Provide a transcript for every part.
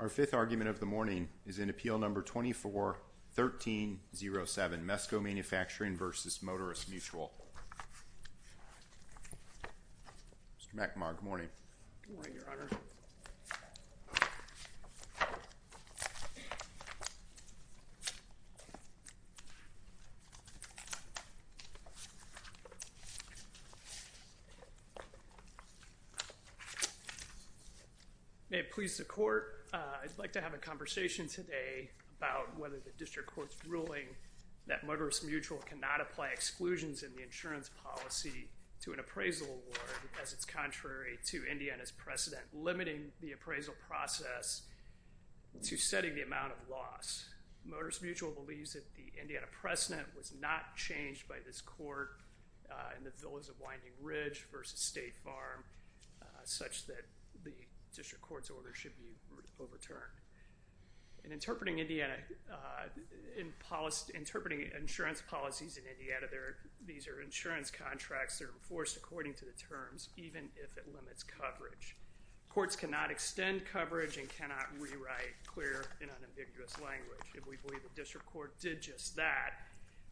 Our fifth argument of the morning is in Appeal No. 24-1307, Mesco Manufacturing v. Motorists Mutual. Mr. McNamara, good morning. Good morning, Your Honor. May it please the court, I'd like to have a conversation today about whether the district court's ruling that Motorists Mutual cannot apply exclusions in the insurance policy to an appraisal award, as it's contrary to Indiana's precedent, limiting the appraisal process to setting the amount of loss. Motorists Mutual believes that the Indiana precedent was not changed by this court in the Villas of Winding Ridge v. State Farm, such that the district court's order should be overturned. In interpreting Indiana, in interpreting insurance policies in Indiana, these are insurance contracts that are enforced according to the terms, even if it limits coverage. Courts cannot extend coverage and cannot rewrite clear and unambiguous language. We believe the district court did just that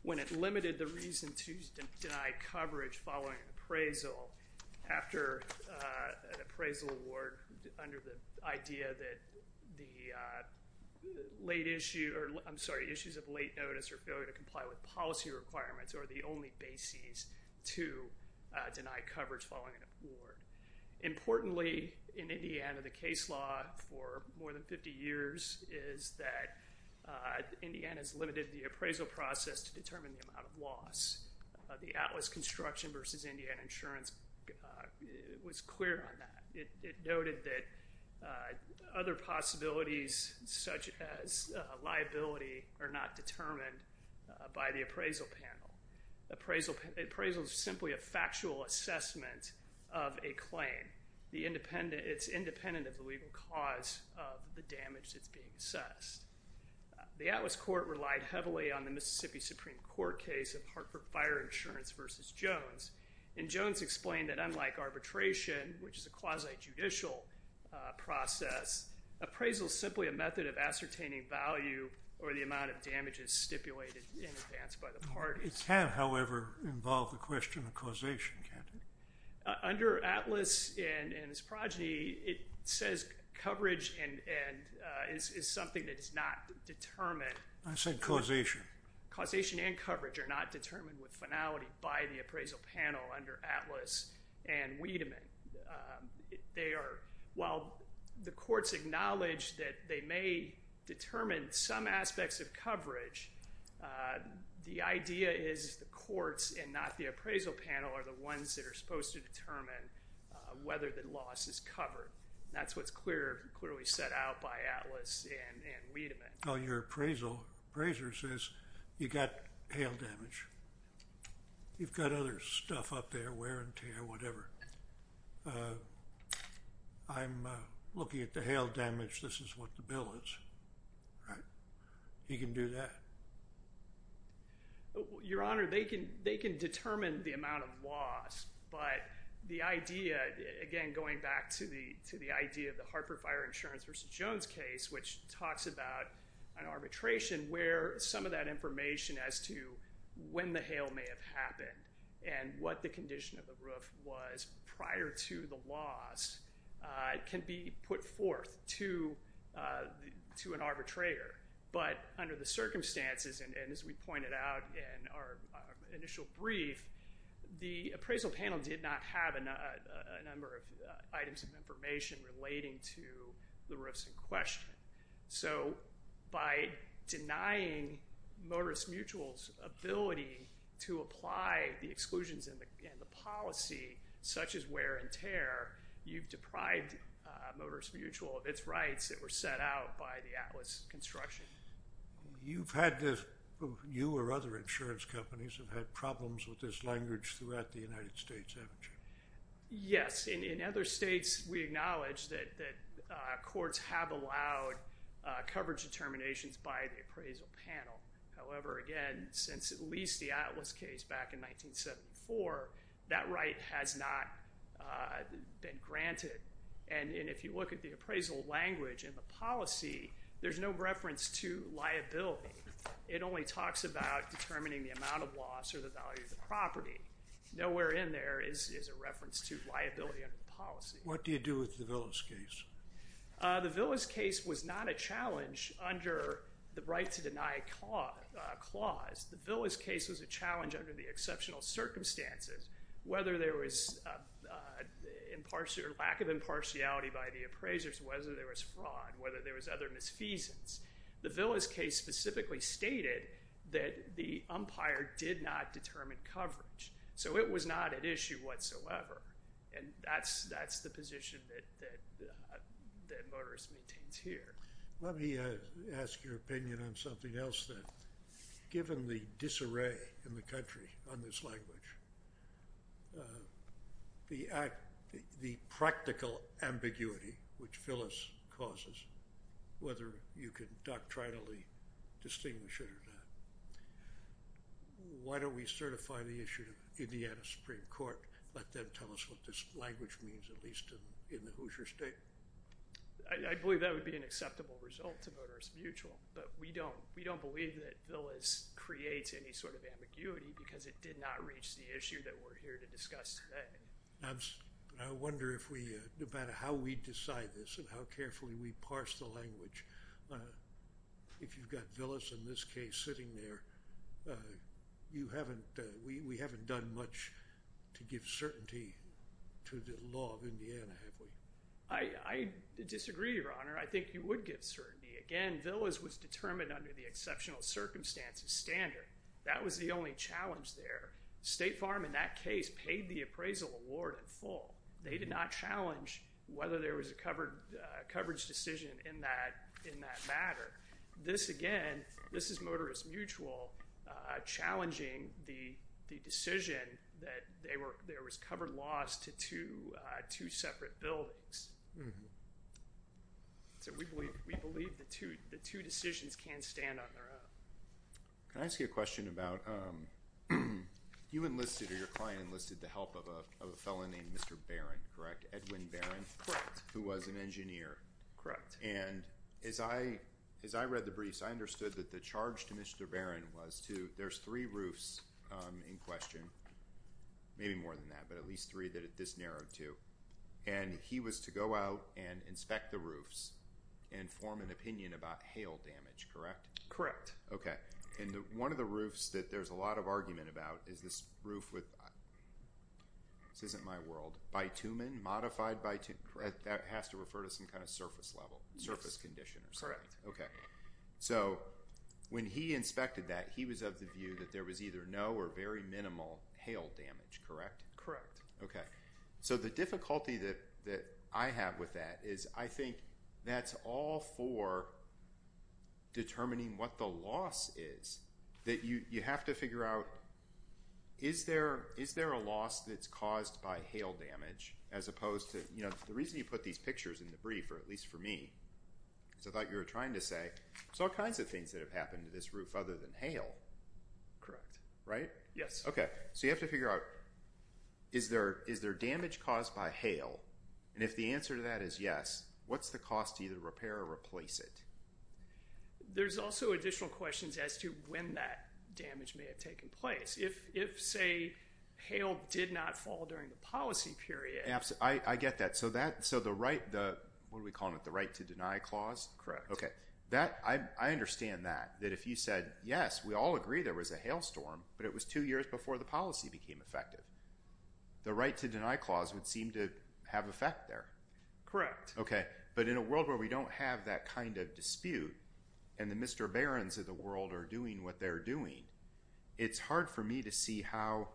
when it limited the reason to deny coverage following an appraisal after an appraisal award under the idea that the late issue, or I'm sorry, issues of late notice or failure to comply with policy requirements are the only bases to deny coverage following an award. Importantly in Indiana, the case law for more than 50 years is that Indiana's limited the appraisal process to determine the amount of loss. The Atlas Construction v. Indiana Insurance was clear on that. It noted that other possibilities, such as liability, are not determined by the appraisal panel. Appraisal is simply a factual assessment of a claim. It's independent of the legal cause of the damage that's being assessed. The Atlas Court relied heavily on the Mississippi Supreme Court case of Hartford Fire Insurance v. Jones, and Jones explained that unlike arbitration, which is a appraisal, simply a method of ascertaining value or the amount of damages stipulated in advance by the parties. It can, however, involve the question of causation, can't it? Under Atlas and its progeny, it says coverage and is something that is not determined. I said causation. Causation and coverage are not determined with finality by the appraisal panel under Atlas and Wiedemann. They are, while the courts acknowledge that they may determine some aspects of coverage, the idea is the courts and not the appraisal panel are the ones that are supposed to determine whether the loss is covered. That's what's clear, clearly set out by Atlas and Wiedemann. Oh, your appraisal, appraiser says you got hail damage. You've got other stuff up there, wear and tear, whatever. I'm looking at the hail damage. This is what the bill is. He can do that. Your Honor, they can determine the amount of loss, but the idea, again going back to the idea of the Hartford Fire Insurance v. Jones case, which talks about an arbitration where some of that information as to when the hail may have happened and what the condition of the roof was prior to the loss can be put forth to an arbitrator. But under the circumstances, and as we pointed out in our initial brief, the appraisal panel did not have a number of items of information relating to the roofs in So, by denying Motorist Mutual's ability to apply the exclusions in the policy, such as wear and tear, you've deprived Motorist Mutual of its rights that were set out by the Atlas construction. You've had this, you or other insurance companies, have had problems with this language throughout the United States, haven't you? Yes. In other states, we acknowledge that courts have allowed coverage determinations by the appraisal panel. However, again, since at least the Atlas case back in 1974, that right has not been granted. And if you look at the appraisal language in the policy, there's no reference to liability. It only talks about determining the amount of loss or the value of the property. Nowhere in there is a reference to liability under the policy. What do you do with the Villas case? The Villas case was not a challenge under the right to deny clause. The Villas case was a challenge under the exceptional circumstances, whether there was lack of impartiality by the appraisers, whether there was fraud, whether there was other misfeasance. The Villas case specifically stated that the umpire did not determine coverage. So it was not an issue whatsoever. And that's that's the position that Motorist maintains here. Let me ask your opinion on something else then. Given the disarray in the country on this language, the practical ambiguity which Villas causes, whether you can doctrinally distinguish it or not, why don't we certify the issue to the Indiana Supreme Court, let them tell us what this language means, at least in the Hoosier State? I believe that would be an acceptable result to Motorist Mutual, but we don't, we don't believe that Villas creates any sort of ambiguity because it did not reach the issue that we're here to discuss today. I wonder if we, no matter how we decide this and how carefully we parse the language, if you've got Villas in this case sitting there, you haven't, we haven't done much to give certainty to the law of Indiana, have we? I disagree, Your Honor. I think you would give certainty. Again, Villas was determined under the exceptional circumstances standard. That was the only challenge there. State Farm in that case paid the appraisal award in full. They did not challenge whether there was a covered, coverage decision in that, in that matter. This again, this is Motorist Mutual challenging the decision that they were, there was covered loss to two separate buildings. So we believe, we believe the two, the two decisions can stand on their own. Can I ask you a question about, you enlisted or your fellow named Mr. Barron, correct? Edwin Barron, who was an engineer. Correct. And as I, as I read the briefs, I understood that the charge to Mr. Barron was to, there's three roofs in question, maybe more than that, but at least three that this narrowed to, and he was to go out and inspect the roofs and form an opinion about hail damage, correct? Correct. Okay. And one of the roofs that there's a lot of argument about is this roof with, this isn't my world, bitumen, modified bitumen. That has to refer to some kind of surface level, surface condition or something. Correct. Okay. So when he inspected that, he was of the view that there was either no or very minimal hail damage, correct? Correct. Okay. So the difficulty that, that I have with that is I think that's all for determining what the loss is. That you, you have to figure out, is there, is there a loss that's caused by hail damage as opposed to, you know, the reason you put these pictures in the brief, or at least for me, is I thought you were trying to say, there's all kinds of things that have happened to this roof other than hail. Correct. Right? Yes. Okay. So you have to figure out, is there, is there damage caused by hail? And if the answer to that is yes, what's the cost to either repair or replace it? There's also additional questions as to when that damage may have taken place. If, if say, hail did not fall during the policy period. I get that. So that, so the right, the, what do we call it, the right to deny clause? Correct. Okay. That, I understand that. That if you said yes, we all agree there was a hail storm, but it was two years before the policy became effective. The right to deny clause would seem to have effect there. Correct. Okay. But in a world where we don't have that kind of dispute, and the Mr. Barons of the world are doing what they're doing, it's hard for me to see how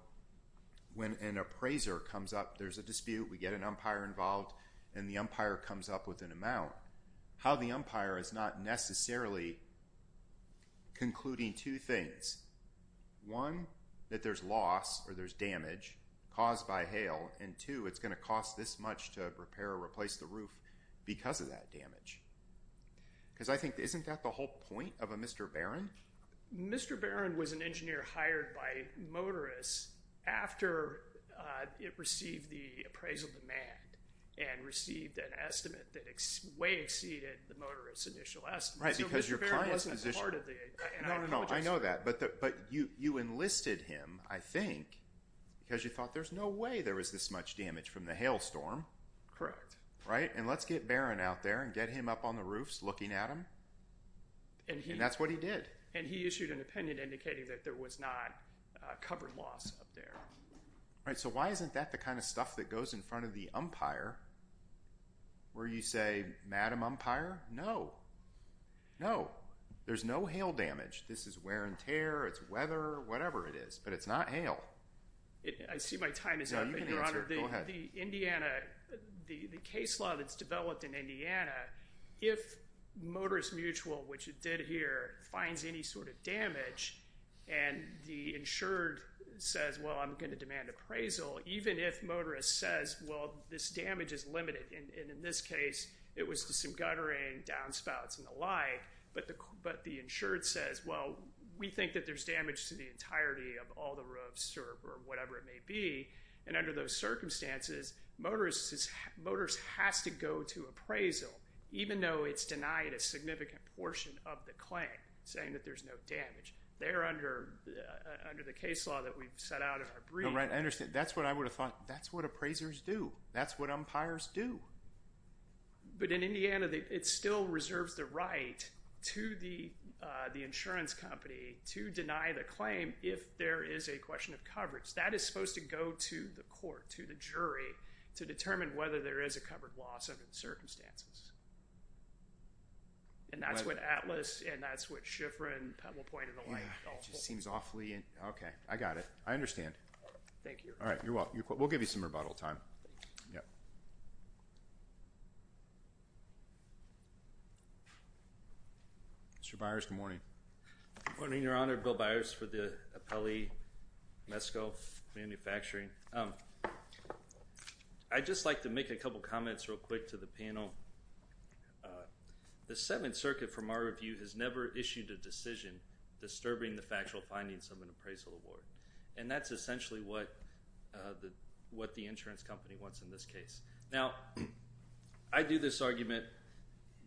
when an appraiser comes up, there's a dispute, we get an umpire involved, and the umpire comes up with an amount, how the umpire is not necessarily concluding two things. One, that there's loss, or there's damage caused by hail, and two, it's going to cost this much to repair or replace the roof because of that damage. Because I think, isn't that the whole point of a Mr. Barron? Mr. Barron was an engineer hired by Motorist after it received the appraisal demand, and received an estimate that way exceeded the Motorist's initial estimate. Right, because your client's position... So Mr. Barron wasn't a part of the... No, no, no, I know that. But, but you, you enlisted him, I think, because you thought there's no way there was this much damage from the hailstorm. Correct. Right, and let's get Barron out there and get him up on the roofs looking at him, and that's what he did. And he issued an opinion indicating that there was not covered loss up there. Right, so why isn't that the kind of stuff that goes in front of the umpire, where you say, Madam umpire, no, no, there's no hail damage, this is wear and tear, it's weather, whatever it is, but it's not hail. I see my time is up, Your Honor. The case law that's developed in Indiana, if Motorist Mutual, which it did here, finds any sort of damage, and the insured says, well, I'm going to demand appraisal, even if Motorist says, well, this damage is limited, and in this case it was to some guttering, downspouts, and the like, but the insured says, well, we think that there's damage to the entirety of all the roofs, or whatever it may be, and under those circumstances, Motorist has to go to appraisal, even though it's denied a significant portion of the claim, saying that there's no damage. They're under the case law that we've set out in our brief. Right, I understand. That's what I would have thought. That's what appraisers do. That's what umpires do. But in Indiana, it still reserves the right to the insurance company to deny the claim if there is a question of coverage. That is supposed to go to the court, to the jury, to determine whether there is a covered loss under the circumstances. And that's what Atlas, and that's what Schiffrin, Pebble Point, and the like, all thought. It just seems awfully, okay, I got it. I understand. Thank you. All right, you're welcome. We'll give you some rebuttal time. Mr. Byers, good morning. Good morning, Your Honor. Bill Byers for the appellee, Mesco Manufacturing. I'd just like to make a couple comments real quick to the panel. The Settlement Circuit, from our review, has never issued a decision disturbing the factual findings of an appraisal award. And that's essentially what the insurance company wants in this case. Now, I do this argument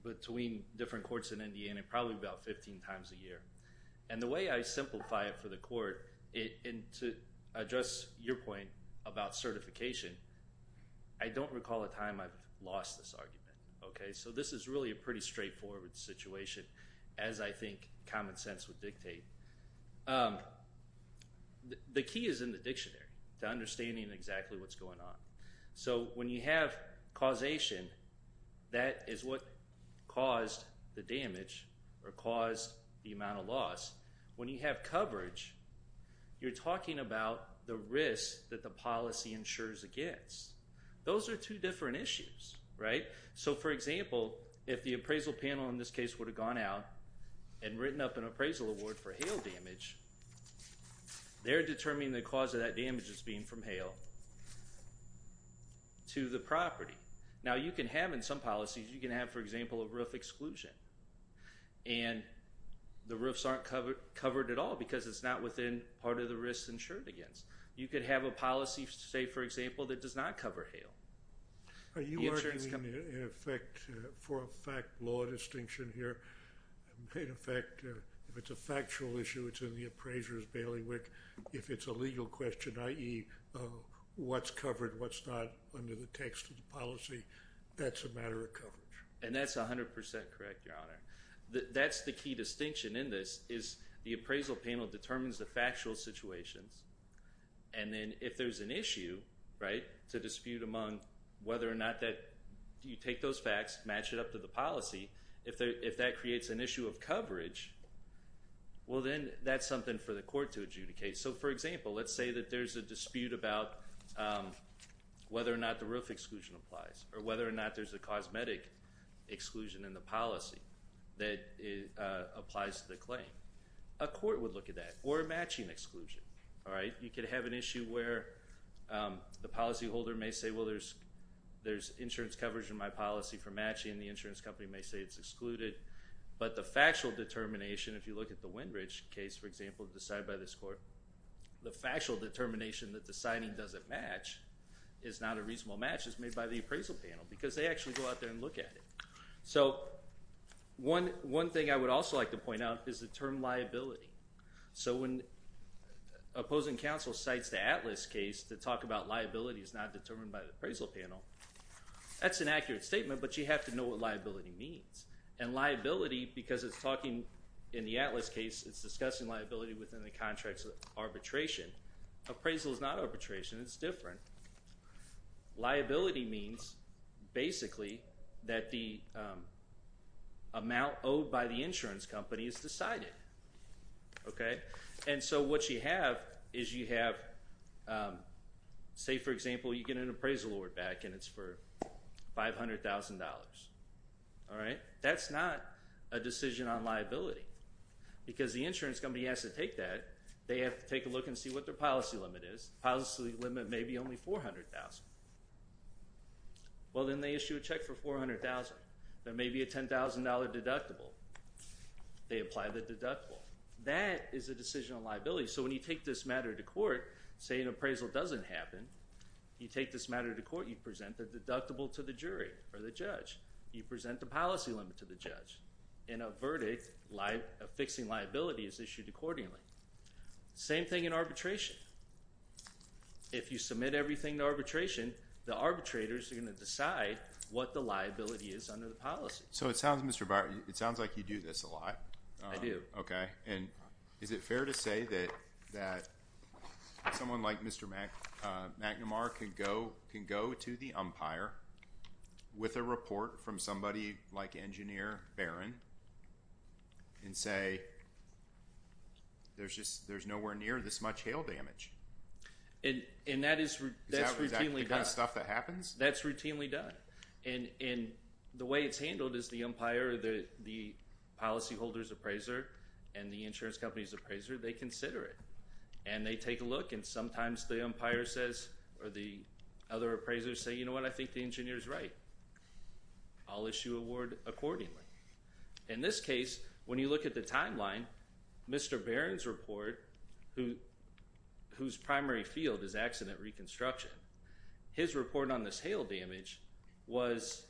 between different courts in Indiana probably about 15 times a year. And the way I simplify it for the court, and to address your point about certification, I don't recall a time I've lost this argument. Okay, so this is really a pretty straightforward situation, as I think common sense would dictate. The key is in the dictionary to understanding exactly what's going on. So when you have causation, that is what caused the damage or caused the amount of loss. When you have coverage, you're talking about the risk that the policy insures against. Those are two different issues, right? So, for example, if the appraisal panel in this case would have gone out and written up an appraisal award for hail damage, they're determining the cause of that damage as being from hail to the property. Now, you can have in some policies, you can have, for example, a roof exclusion. And the roofs aren't covered at all because it's not within part of the risks insured against. You could have a policy, say for example, that does not cover hail. Are you arguing, in effect, for a fact-law distinction here, in effect, if it's a factual issue, it's in the appraiser's bailiwick, if it's a legal question, i.e., what's covered, what's not, under the text of the policy, that's a matter of coverage? And that's a hundred percent correct, Your Honor. That's the key distinction in this, is the appraisal panel determines the factual situations, and then if there's an issue, right, to dispute among whether or not that you take those facts, match it up to the policy, if that creates an issue of coverage, well then, that's something for the court to adjudicate. So, for example, let's say that there's a dispute about whether or not the roof exclusion applies, or whether or not there's a cosmetic exclusion in the policy that applies to the claim. A court would look at that, or a matching exclusion, all right? You could have an issue where the policyholder may say, well, there's insurance coverage in my policy for matching, the insurance company may say it's excluded, but the factual determination, if you look at the Windridge case, for example, decided by this court, the factual determination that the signing doesn't match, is not a reasonable match, is made by the appraisal panel, because they actually go out there and look at it. So, one thing I would also like to point out is the term liability. So, when opposing counsel cites the Atlas case to talk about liability is not determined by the appraisal panel, that's an accurate statement, but you have to know what liability means. And liability, because it's talking, in the Atlas case, it's discussing liability within the contracts of arbitration. Appraisal is not arbitration, it's different. Liability means, basically, that the amount owed by the insurance company is decided, okay? And so, what you have is you have, say, for example, you get an appraisal award back and it's for $500,000, all right? That's not a decision on liability, because the insurance company has to take that, they have to take a look and see what their policy limit is. Policy limit may be only $400,000. Well, then they issue a check for $400,000. There may be a $10,000 deductible. They apply the deductible. That is a decision on liability. So, when you take this matter to court, say an appraisal doesn't happen, you take this matter to court, you present the deductible to the jury or the judge. You present the policy limit to the judge. In a verdict, a fixing liability is issued accordingly. Same thing in arbitration. If you submit everything to arbitration, the arbitrators are going to decide what the liability is under the policy. So, it sounds, Mr. Barton, it sounds like you do this a lot. I do. Okay, and is it fair to say that someone like Mr. McNamara can go to the umpire with a report from somebody like Engineer Barron and say, there's just, there's nowhere near this much hail damage. And that is routinely done. Is that the kind of stuff that happens? That's routinely done. And the way it's handled is the umpire, the policyholder's appraiser, and the insurance company's appraiser, they consider it. And they take a look and sometimes the umpire says, or the other appraisers say, you know what, I think the engineer's right. I'll issue a word accordingly. In this case, when you look at the timeline, Mr. Barron's report, whose primary field is accident reconstruction, his report on this was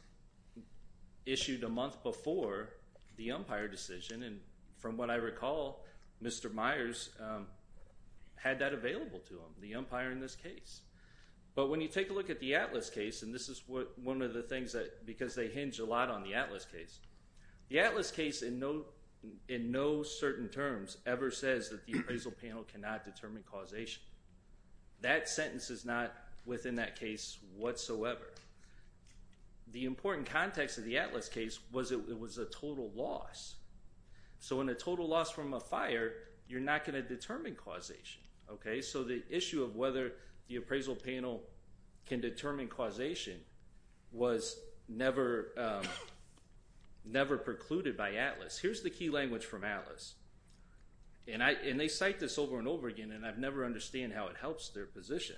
a month before the umpire decision. And from what I recall, Mr. Myers had that available to him, the umpire in this case. But when you take a look at the Atlas case, and this is one of the things that, because they hinge a lot on the Atlas case, the Atlas case in no certain terms ever says that the appraisal panel cannot determine causation. That sentence is not within that case whatsoever. The important context of the Atlas case was it was a total loss. So in a total loss from a fire, you're not going to determine causation. Okay, so the issue of whether the appraisal panel can determine causation was never, never precluded by Atlas. Here's the key language from Atlas. And I, and they cite this over and over again, and I've never understand how it helps their position.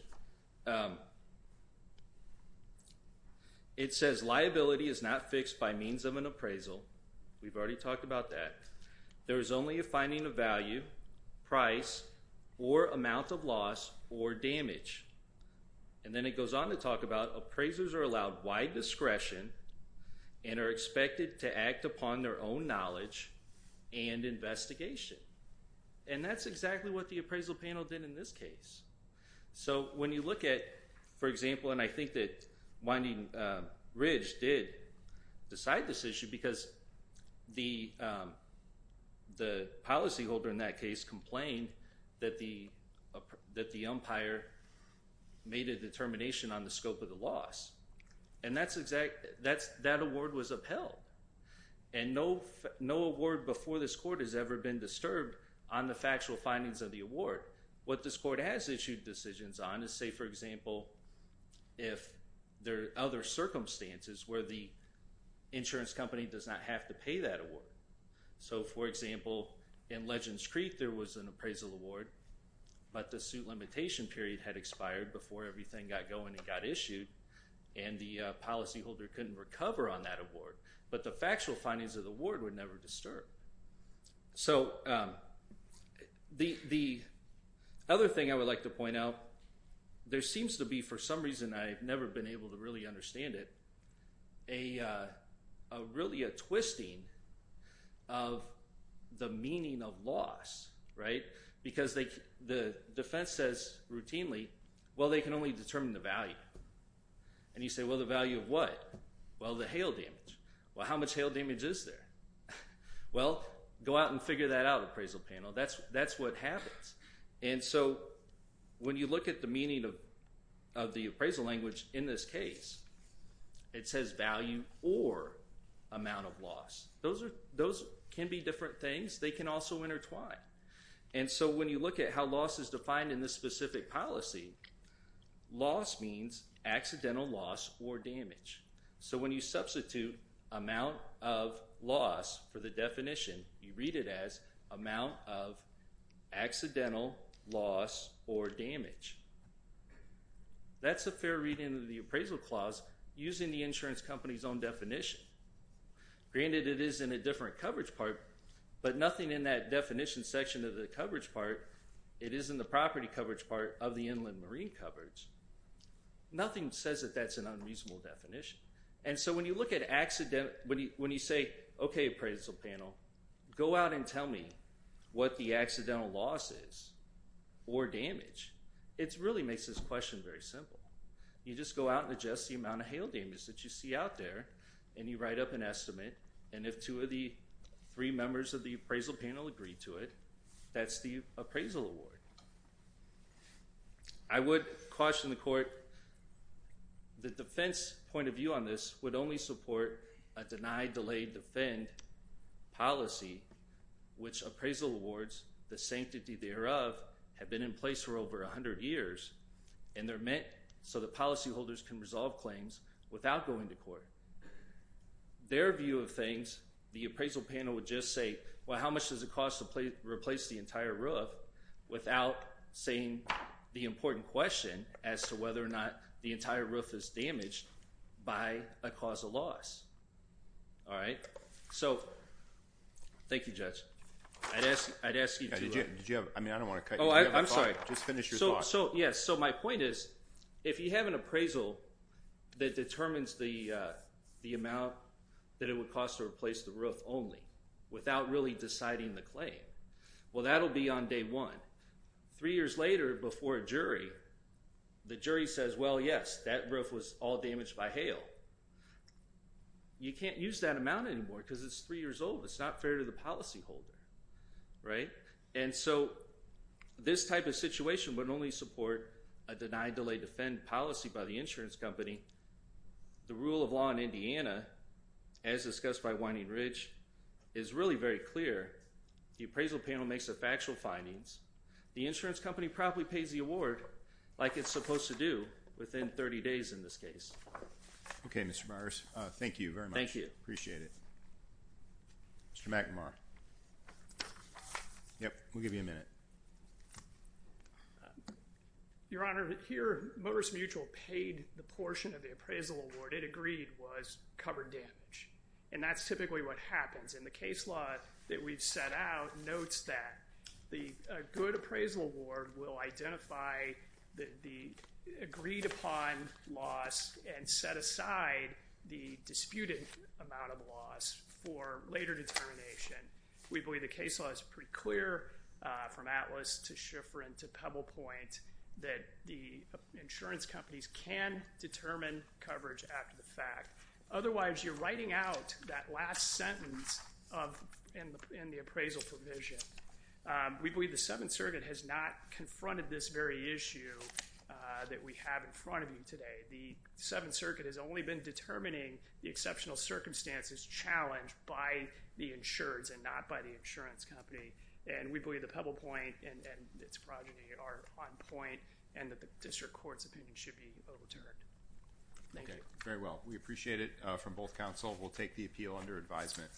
It says liability is not fixed by means of an appraisal. We've already talked about that. There is only a finding of value, price, or amount of loss or damage. And then it goes on to talk about appraisers are allowed wide discretion and are expected to act upon their own knowledge and investigation. And that's exactly what the appraisal panel did in this case. So when you look at, for example, and I think that Winding Ridge did decide this issue because the the policyholder in that case complained that the umpire made a determination on the scope of the loss. And that's exactly, that award was upheld. And no, no award before this court has ever been disturbed on the factual findings of the award. What this court has issued decisions on is, say for example, if there are other circumstances where the insurance company does not have to pay that award. So for example, in Legends Creek there was an appraisal award, but the suit limitation period had expired before everything got going and got issued and the policyholder couldn't recover on that award. But the factual findings of the award would never disturb. So the other thing I would like to point out, there seems to be for some reason I've never been able to really understand it, a really a twisting of the meaning of loss, right? Because the defense says routinely, well they can only determine the value. And you say, well the value of what? Well the hail damage. Well how much hail damage is there? Well go out and figure that out, appraisal panel. That's what happens. And so when you look at the meaning of the appraisal language in this case, it says value or amount of loss. Those can be different and so when you look at how loss is defined in this specific policy, loss means accidental loss or damage. So when you substitute amount of loss for the definition, you read it as amount of accidental loss or damage. That's a fair reading of the appraisal clause using the insurance company's own definition. Granted it is in a different coverage part, but nothing in that definition section of the coverage part, it is in the property coverage part of the inland marine coverage. Nothing says that that's an unreasonable definition. And so when you look at accident, when you say, okay appraisal panel, go out and tell me what the accidental loss is or damage. It really makes this question very simple. You just go out and adjust the amount of hail damage that you see out there and you write up an estimate and if two of the three members of the appraisal panel agree to it, that's the appraisal award. I would caution the court, the defense point of view on this would only support a deny, delay, defend policy which appraisal awards, the sanctity thereof, have been in place for over a hundred years and they're meant so the policyholders can resolve claims without going to court. Their view of things, the appraisal panel would just say, well how much does it cost to replace the entire roof without saying the important question as to whether or not the entire roof is damaged by a cause of loss. All right, so thank you judge. I'd ask you to... Did you have, I mean I don't want to cut you off. I'm sorry. Just finish your thought. So yes, so my point is if you have an appraisal that determines the amount that it would cost to replace the roof only without really deciding the claim, well that'll be on day one. Three years later before a jury, the jury says well yes, that roof was all damaged by hail. You can't use that amount anymore because it's three years old. It's not fair to the policyholder, right? And so this type of situation would only support a deny, delay, defend policy by the insurance company. The rule of law in Indiana, as discussed by Whining Ridge, is really very clear. The appraisal panel makes the factual findings. The insurance company probably pays the award like it's supposed to do within 30 days in this case. Okay, Mr. Myers. Thank you very much. Thank you. Appreciate it. Mr. McNamara. Yep, we'll give you a minute. Your Honor, here Morris Mutual paid the portion of the appraisal award it agreed was covered damage, and that's typically what happens. And the case law that we've set out notes that the good appraisal award will identify the agreed upon loss and set aside the disputed amount of loss for later determination. We believe the case law is pretty clear from Atlas to Schifrin to Pebble Point that the insurance companies can determine coverage after the fact. Otherwise, you're writing out that last sentence of in the appraisal provision. We believe the Seventh Circuit has not confronted this very issue that we have in front of you today. The Seventh Circuit has only been determining the exceptional circumstances challenged by the insureds and not by the insurance company. And we believe the Pebble Point and its progeny are on point and that the district court's opinion should be overturned. Okay, very well. We appreciate it from both counsel. We'll take the appeal under advisement.